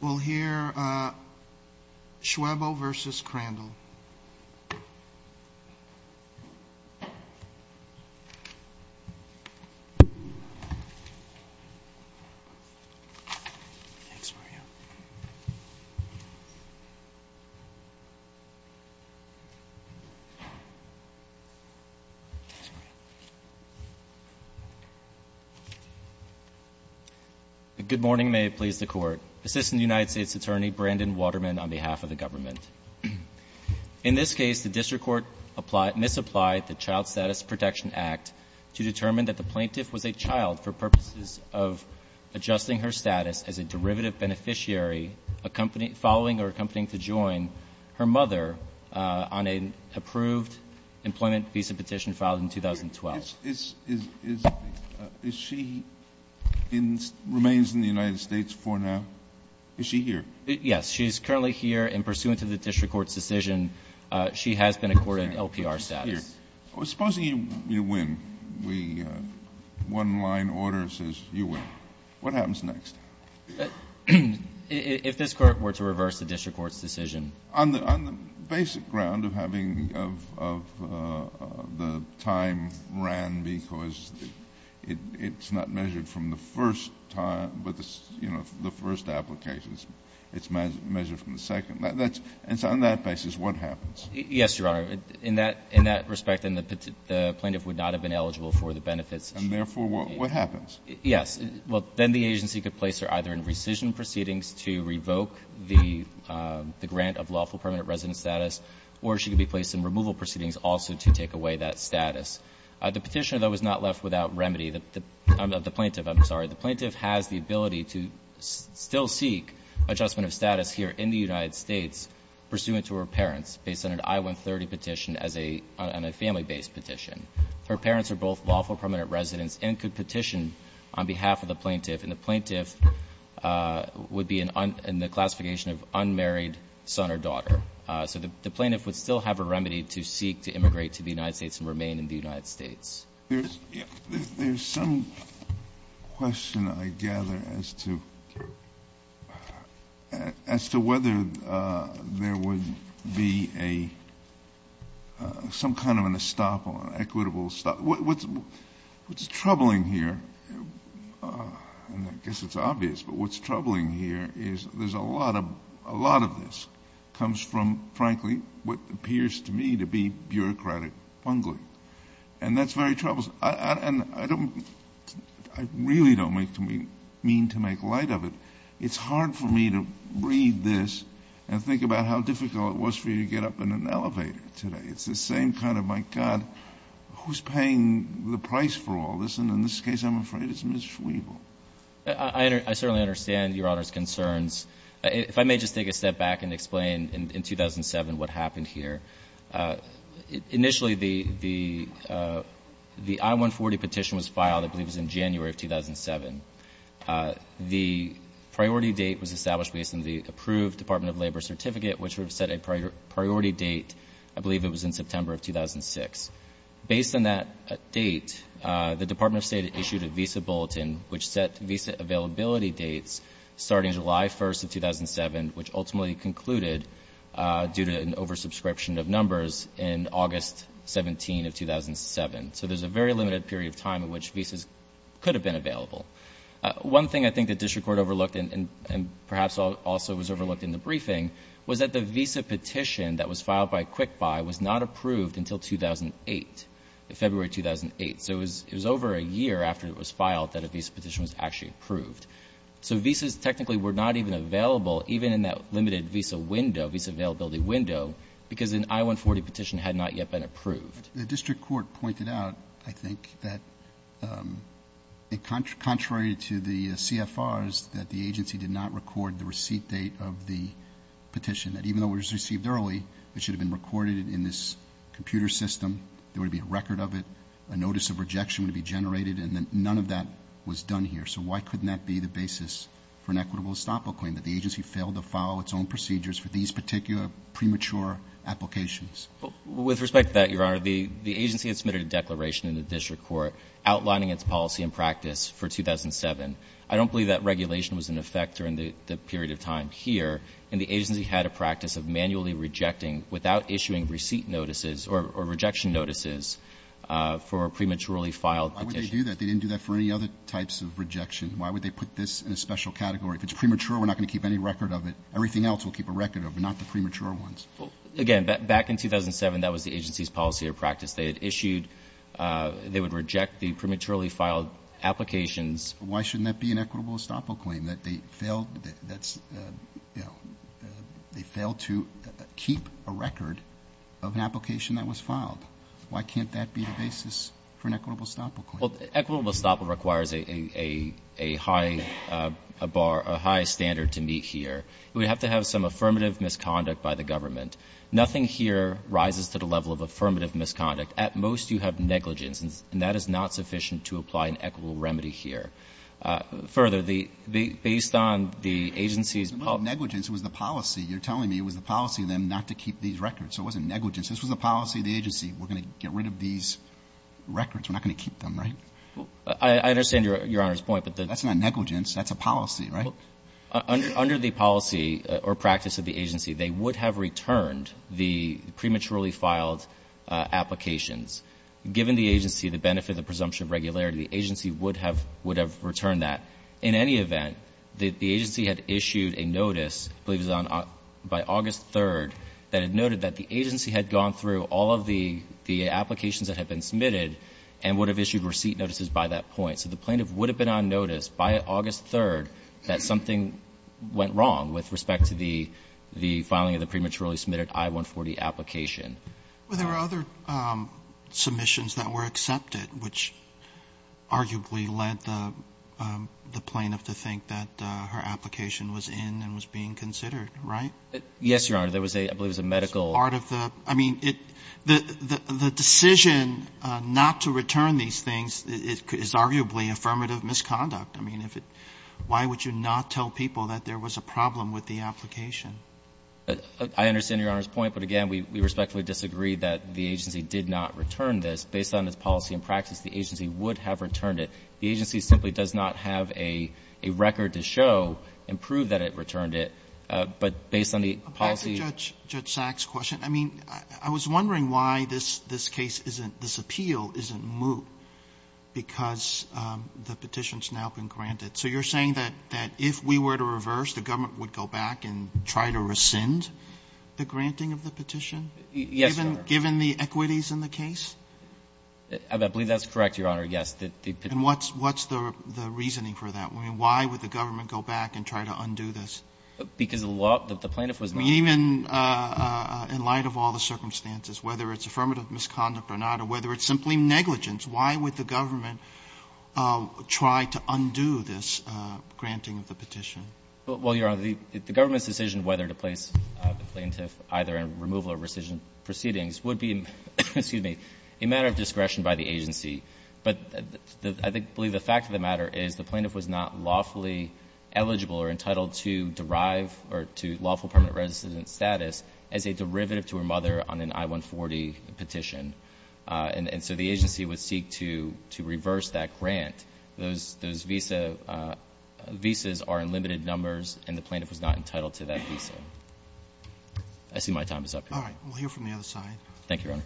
We'll hear Schwebel v. Crandall. Good morning, may it please the Court. Assistant United States Attorney Brandon Waterman on behalf of the government. In this case, the district court misapplied the Child Status Protection Act to determine that the plaintiff was a child for purposes of adjusting her status as a derivative beneficiary, following or accompanying to join her mother on an approved employment visa petition filed in 2012. Is she in remains in the United States for now? Is she here? Yes, she's currently here in pursuant to the district court's decision. She has been accorded LPR status. Supposing you win. We one line order says you win. What happens next? If this court were to reverse the district court's decision. On the basic ground of having the time ran because it's not measured from the first time, but the first application is measured from the second. On that basis, what happens? Yes, Your Honor. In that respect, then the plaintiff would not have been eligible for the benefits. And therefore, what happens? Yes. Well, then the agency could place her either in rescission proceedings to revoke the grant of lawful permanent resident status, or she could be placed in removal proceedings also to take away that status. The Petitioner, though, is not left without remedy. The plaintiff, I'm sorry. The plaintiff has the ability to still seek adjustment of status here in the United States pursuant to her parents based on an I-130 petition as a family-based petition. Her parents are both lawful permanent residents and could petition on behalf of the plaintiff, and the plaintiff would be in the classification of unmarried son or daughter. So the plaintiff would still have a remedy to seek to immigrate to the United States and remain in the United States. There's some question I gather as to whether there would be a some kind of an estoppel, equitable, what's troubling here, and I guess it's obvious, but what's troubling here is there's a lot of this comes from, frankly, what appears to me to be bureaucratic bungling. And that's very troublesome. And I really don't mean to make light of it. It's hard for me to read this and think about how difficult it was for you to get up in an elevator today. It's the same kind of, my God, who's paying the price for all this? And in this case, I'm afraid it's Ms. Schwebel. I certainly understand Your Honor's concerns. If I may just take a step back and explain in 2007 what happened here. Initially, the I-140 petition was filed, I believe it was in January of 2007. The priority date was established based on the approved Department of Labor certificate, which would have set a priority date. I believe it was in September of 2006. Based on that date, the Department of State issued a visa bulletin, which set visa availability dates starting July 1st of 2007, which ultimately concluded due to an oversubscription of numbers in August 17 of 2007. So there's a very limited period of time in which visas could have been available. One thing I think the district court overlooked, and perhaps also was overlooked in the briefing, was that the visa petition that was filed by QuickBuy was not approved until 2008, February 2008. So it was over a year after it was filed that a visa petition was actually approved. So visas technically were not even available, even in that limited visa window, visa availability window, because an I-140 petition had not yet been approved. The district court pointed out, I think, that contrary to the CFRs, that the agency did not record the receipt date of the petition, that even though it was received early, it should have been recorded in this computer system, there would be a record of it, a notice of rejection would be generated, and that none of that was done here. So why couldn't that be the basis for an equitable estoppel claim, that the agency failed to follow its own procedures for these particular premature applications? With respect to that, Your Honor, the agency had submitted a declaration in the district court outlining its policy and practice for 2007. I don't believe that regulation was in effect during the period of time here, and the agency had a practice of manually rejecting, without issuing receipt notices or rejection notices, for prematurely filed petitions. Why would they do that? They didn't do that for any other types of rejection. Why would they put this in a special category? If it's premature, we're not going to keep any record of it. Everything else we'll keep a record of, but not the premature ones. Again, back in 2007, that was the agency's policy or practice. They had issued, they would reject the prematurely filed applications. Why shouldn't that be an equitable estoppel claim, that they failed to keep a record of an application that was filed? Why can't that be the basis for an equitable estoppel claim? Well, equitable estoppel requires a high standard to meet here. It would have to have some affirmative misconduct by the government. Nothing here rises to the level of affirmative misconduct. At most, you have negligence, and that is not sufficient to apply an equitable remedy here. Further, based on the agency's policy of negligence, it was the policy. You're telling me it was the policy of them not to keep these records. So it wasn't negligence. This was the policy of the agency. We're going to get rid of these records. We're not going to keep them, right? I understand Your Honor's point, but the That's not negligence. That's a policy, right? Under the policy or practice of the agency, they would have returned the prematurely filed applications. Given the agency, the benefit of the presumption of regularity, the agency would have returned that. In any event, the agency had issued a notice, I believe it was by August 3rd, that it noted that the agency had gone through all of the applications that had been submitted and would have issued receipt notices by that point. So the plaintiff would have been on notice by August 3rd that something went wrong with respect to the filing of the prematurely submitted I-140 application. Well, there were other submissions that were accepted, which arguably led the plaintiff to think that her application was in and was being considered, right? Yes, Your Honor. There was a, I believe it was a medical part of the, I mean, the decision not to return these things is arguably affirmative misconduct. I mean, if it why would you not tell people that there was a problem with the application? I understand Your Honor's point, but again, we respectfully disagree that the agency did not return this. Based on its policy and practice, the agency would have returned it. The agency simply does not have a record to show and prove that it returned it. But based on the policy ---- Back to Judge Sack's question, I mean, I was wondering why this case isn't, this appeal isn't moot because the petition's now been granted. So you're saying that if we were to reverse, the government would go back and try to rescind the granting of the petition? Yes, Your Honor. Given the equities in the case? I believe that's correct, Your Honor, yes. And what's the reasoning for that? I mean, why would the government go back and try to undo this? Because the plaintiff was not ---- I mean, even in light of all the circumstances, whether it's affirmative misconduct or not, or whether it's simply negligence, why would the government try to undo this granting of the petition? Well, Your Honor, the government's decision whether to place the plaintiff either in removal or rescission proceedings would be, excuse me, a matter of discretion by the agency. But I believe the fact of the matter is the plaintiff was not lawfully eligible or entitled to derive or to lawful permanent resident status as a derivative to her mother on an I-140 petition. And so the agency would seek to reverse that grant. Those visas are in limited numbers, and the plaintiff was not entitled to that visa. I see my time is up. All right. We'll hear from the other side. Thank you, Your Honor.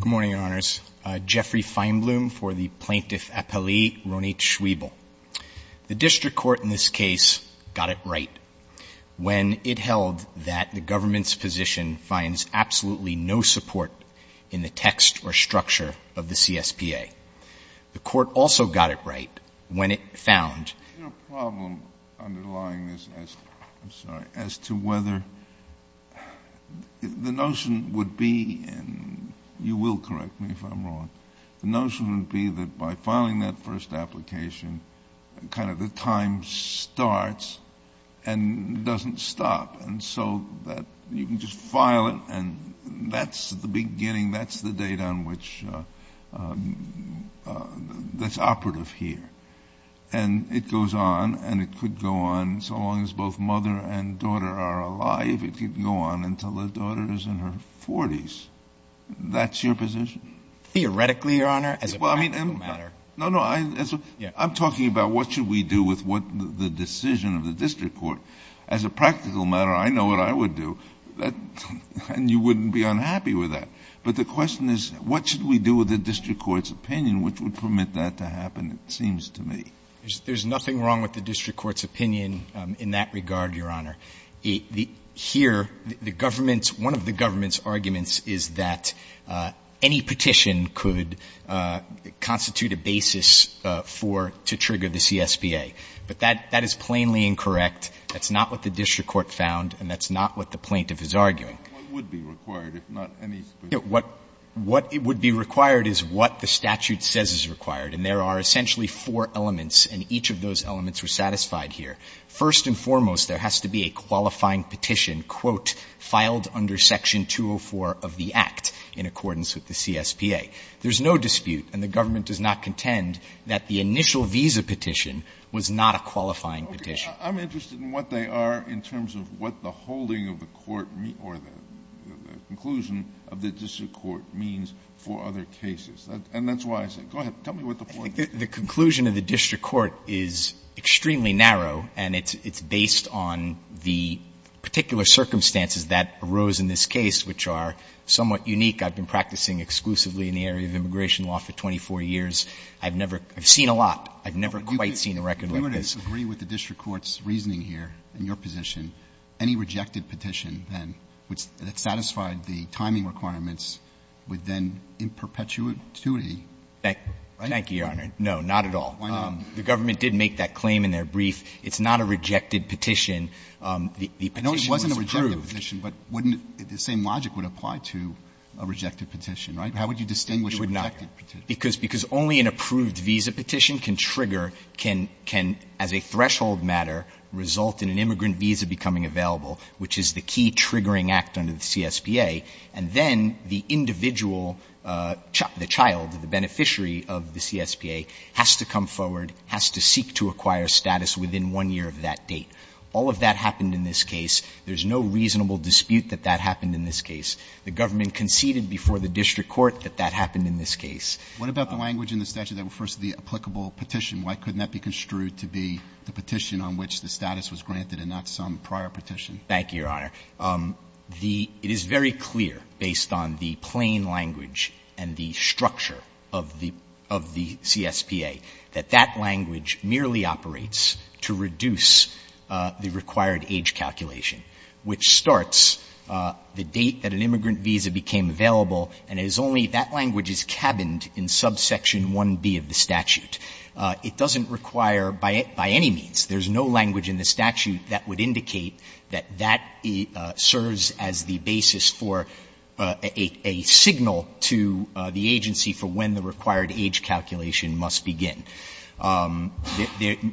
Good morning, Your Honors. Jeffrey Feinblum for the Plaintiff Appellee, Ronit Schwebel. The district court in this case got it right when it held that the government's position finds absolutely no support in the text or structure of the CSPA. The court also got it right when it found the problem underlying this, I'm sorry, as to whether the notion would be, and you will correct me if I'm wrong, the notion would be that by filing that first application, kind of the time starts and doesn't stop. And so that you can just file it, and that's the beginning. That's the date on which that's operative here. And it goes on, and it could go on so long as both mother and daughter are alive. It could go on until the daughter is in her 40s. That's your position? Theoretically, Your Honor, as a practical matter. No, no. I'm talking about what should we do with the decision of the district court. As a practical matter, I know what I would do, and you wouldn't be unhappy with that. But the question is, what should we do with the district court's opinion which would permit that to happen, it seems to me. There's nothing wrong with the district court's opinion in that regard, Your Honor. Here, the government's – one of the government's arguments is that any petition could constitute a basis for – to trigger the CSBA. But that is plainly incorrect. That's not what the district court found, and that's not what the plaintiff is arguing. What would be required, if not any specific? What would be required is what the statute says is required, and there are essentially four elements, and each of those elements are satisfied here. First and foremost, there has to be a qualifying petition, quote, filed under Section 204 of the Act in accordance with the CSBA. There's no dispute, and the government does not contend, that the initial visa petition was not a qualifying petition. Kennedy. I'm interested in what they are in terms of what the holding of the court or the conclusion of the district court means for other cases. And that's why I say, go ahead, tell me what the point is. The conclusion of the district court is extremely narrow, and it's based on the particular circumstances that arose in this case, which are somewhat unique. I've been practicing exclusively in the area of immigration law for 24 years. I've never – I've seen a lot. I've never quite seen a record like this. Do you agree with the district court's reasoning here in your position, any rejected petition, then, that satisfied the timing requirements, would then in perpetuity be? Thank you, Your Honor. No, not at all. Why not? The government did make that claim in their brief. It's not a rejected petition. The petition was approved. I know it wasn't a rejected petition, but wouldn't – the same logic would apply to a rejected petition, right? How would you distinguish a rejected petition? It would not, because only an approved visa petition can trigger, can, as a threshold matter, result in an immigrant visa becoming available, which is the key triggering act under the CSPA, and then the individual, the child, the beneficiary of the CSPA has to come forward, has to seek to acquire status within one year of that date. All of that happened in this case. There's no reasonable dispute that that happened in this case. The government conceded before the district court that that happened in this case. What about the language in the statute that refers to the applicable petition? Why couldn't that be construed to be the petition on which the status was granted and not some prior petition? Thank you, Your Honor. The – it is very clear, based on the plain language and the structure of the CSPA, that that language merely operates to reduce the required age calculation, which starts the date that an immigrant visa became available, and it is only that language is cabined in subsection 1B of the statute. It doesn't require, by any means, there's no language in the statute that would indicate that that serves as the basis for a signal to the agency for when the required age calculation must begin.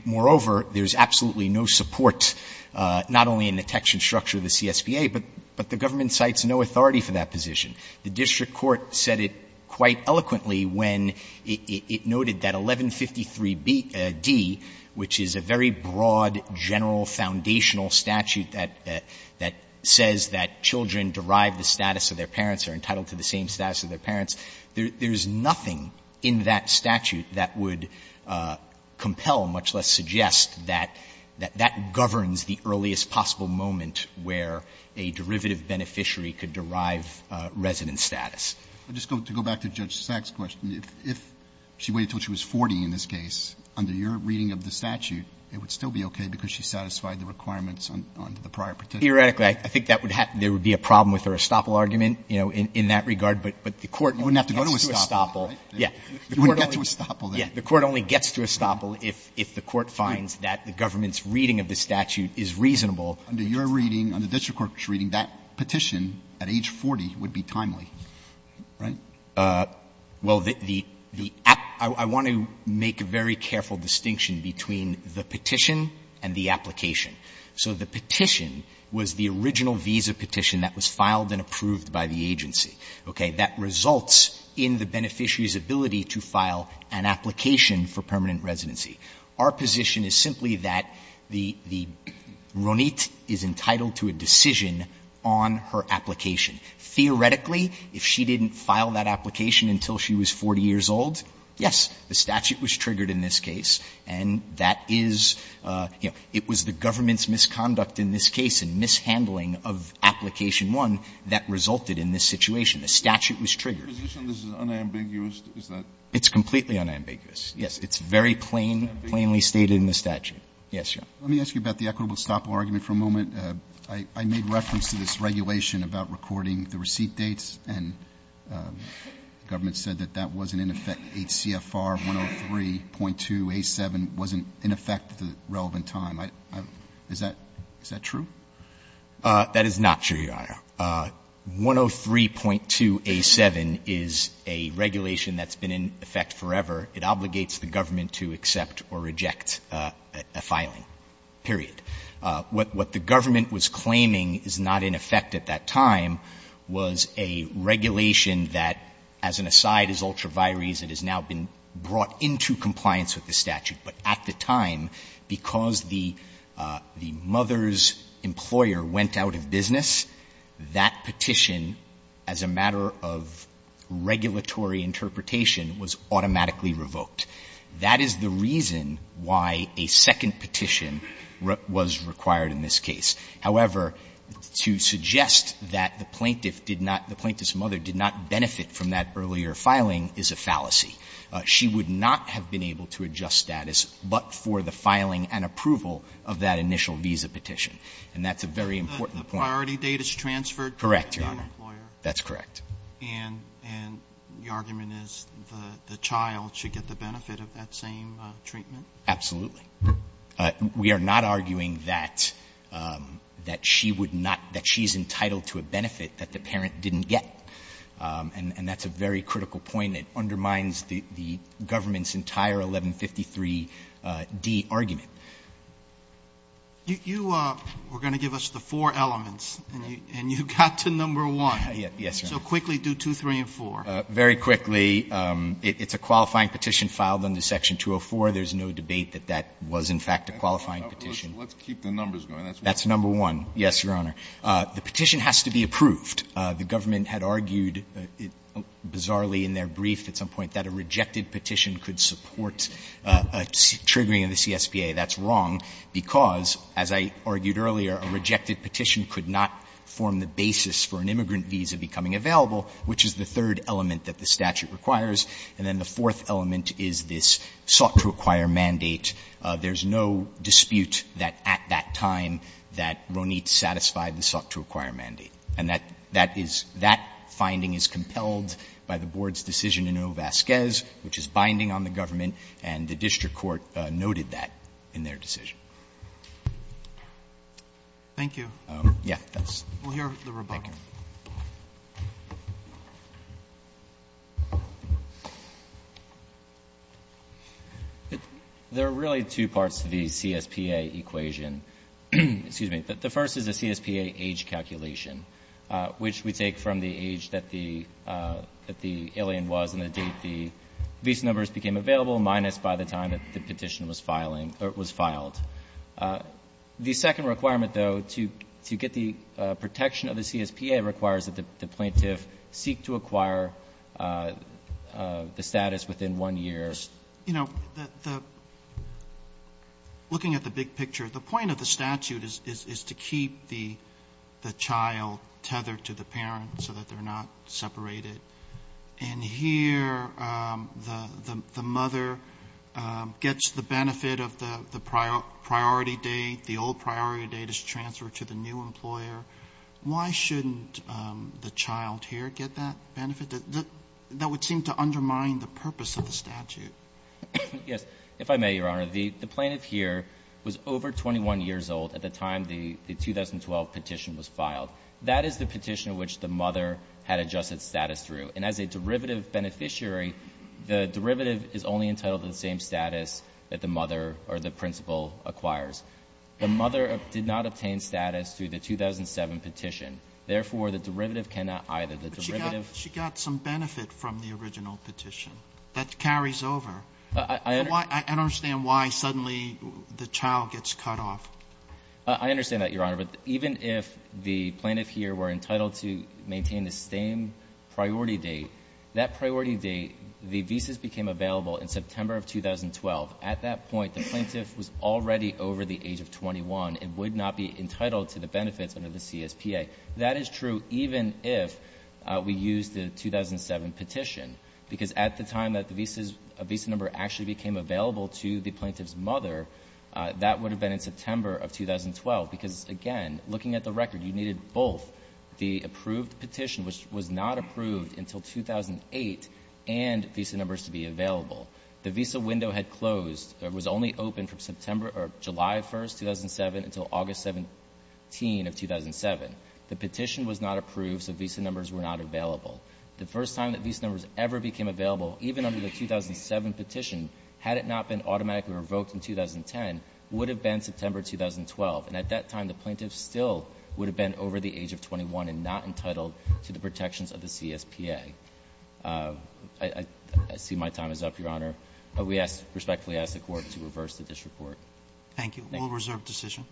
Moreover, there's absolutely no support, not only in the text and structure of the CSPA, but the government cites no authority for that position. The district court said it quite eloquently when it noted that 1153d, which is a very simple statute that says that children derived the status of their parents are entitled to the same status of their parents, there's nothing in that statute that would compel, much less suggest, that that governs the earliest possible moment where a derivative beneficiary could derive resident status. I'm just going to go back to Judge Sack's question. If she waited until she was 40 in this case, under your reading of the statute, it would still be okay because she satisfied the requirements under the prior petition. Verrilli, I think that would have been a problem with her estoppel argument in that regard, but the Court only gets to estoppel. Alito, you wouldn't have to go to estoppel, right? Verrilli, yes. Alito, you wouldn't have to go to estoppel, then. Verrilli, yes. The Court only gets to estoppel if the Court finds that the government's reading of the statute is reasonable. Alito, under your reading, under district court's reading, that petition at age 40 would be timely, right? Well, the app — I want to make a very careful distinction between the petition and the application. So the petition was the original visa petition that was filed and approved by the agency, okay? That results in the beneficiary's ability to file an application for permanent residency. Our position is simply that the — Ronit is entitled to a decision on her application. Theoretically, if she didn't file that application until she was 40 years old, yes, the statute was triggered in this case, and that is — you know, it was the government's misconduct in this case and mishandling of application one that resulted in this situation. The statute was triggered. This is unambiguous, is that — It's completely unambiguous, yes. It's very plainly stated in the statute. Yes, Your Honor. Let me ask you about the equitable estoppel argument for a moment. I made reference to this regulation about recording the receipt dates, and the government said that that wasn't in effect. HCFR 103.2A7 wasn't in effect at the relevant time. I — is that — is that true? That is not true, Your Honor. 103.2A7 is a regulation that's been in effect forever. It obligates the government to accept or reject a filing, period. What the government was claiming is not in effect at that time was a regulation that, as an aside, is ultra vires, it has now been brought into compliance with the statute, but at the time, because the mother's employer went out of business, that petition, as a matter of regulatory interpretation, was automatically revoked. That is the reason why a second petition was required in this case. However, to suggest that the plaintiff did not — the plaintiff's mother did not benefit from that earlier filing is a fallacy. She would not have been able to adjust status but for the filing and approval of that initial visa petition. And that's a very important point. The priority date is transferred to the employer. Correct, Your Honor. That's correct. And the argument is the child should get the benefit of that same treatment? Absolutely. We are not arguing that she would not — that she's entitled to a benefit that the parent didn't get. And that's a very critical point. It undermines the government's entire 1153D argument. You were going to give us the four elements, and you got to number one. Yes, Your Honor. So quickly do two, three, and four. Very quickly. It's a qualifying petition filed under Section 204. There's no debate that that was, in fact, a qualifying petition. Let's keep the numbers going. That's number one. Yes, Your Honor. The petition has to be approved. The government had argued, bizarrely in their brief at some point, that a rejected petition could support a triggering of the CSPA. That's wrong because, as I argued earlier, a rejected petition could not form the basis for an immigrant visa becoming available, which is the third element that the statute requires. And then the fourth element is this sought-to-acquire mandate. There's no dispute that at that time that Ronit satisfied the sought-to-acquire mandate. And that is — that finding is compelled by the Board's decision in O. Vasquez, which is binding on the government, and the district court noted that in their decision. Thank you. Yes. We'll hear the rebuttal. Thank you. There are really two parts to the CSPA equation. Excuse me. The first is the CSPA age calculation, which we take from the age that the — that the alien was and the date the visa numbers became available, minus by the time that the petition was filing — was filed. The second requirement, though, to get the protection of the CSPA requires that the plaintiff seek to acquire the status within one year. You know, the — looking at the big picture, the point of the statute is to keep the child tethered to the parent so that they're not separated. And here, the mother gets the benefit of the priority date. The old priority date is transferred to the new employer. Why shouldn't the child here get that benefit? That would seem to undermine the purpose of the statute. Yes. If I may, Your Honor, the plaintiff here was over 21 years old at the time the 2012 petition was filed. That is the petition in which the mother had adjusted status through. And as a derivative beneficiary, the derivative is only entitled to the same status that the mother or the principal acquires. The mother did not obtain status through the 2007 petition. Therefore, the derivative cannot either. The derivative — Sotomayor, she got some benefit from the original petition. That carries over. I understand why suddenly the child gets cut off. I understand that, Your Honor. But even if the plaintiff here were entitled to maintain the same priority date, that priority date, the visas became available in September of 2012. At that point, the plaintiff was already over the age of 21 and would not be entitled to the benefits under the CSPA. That is true even if we use the 2007 petition. Because at the time that the visa number actually became available to the plaintiff's mother, that would have been in September of 2012, because, again, looking at the record, you needed both the approved petition, which was not approved until 2008, and visa numbers to be available. The visa window had closed. It was only open from July 1, 2007, until August 17 of 2007. The petition was not approved, so visa numbers were not available. The first time that visa numbers ever became available, even under the 2007 petition, had it not been automatically revoked in 2010, would have been September 2012. And at that time, the plaintiff still would have been over the age of 21 and not entitled to the protections of the CSPA. I see my time is up, Your Honor. We respectfully ask the Court to reverse the disreport. Thank you. We'll reserve decision.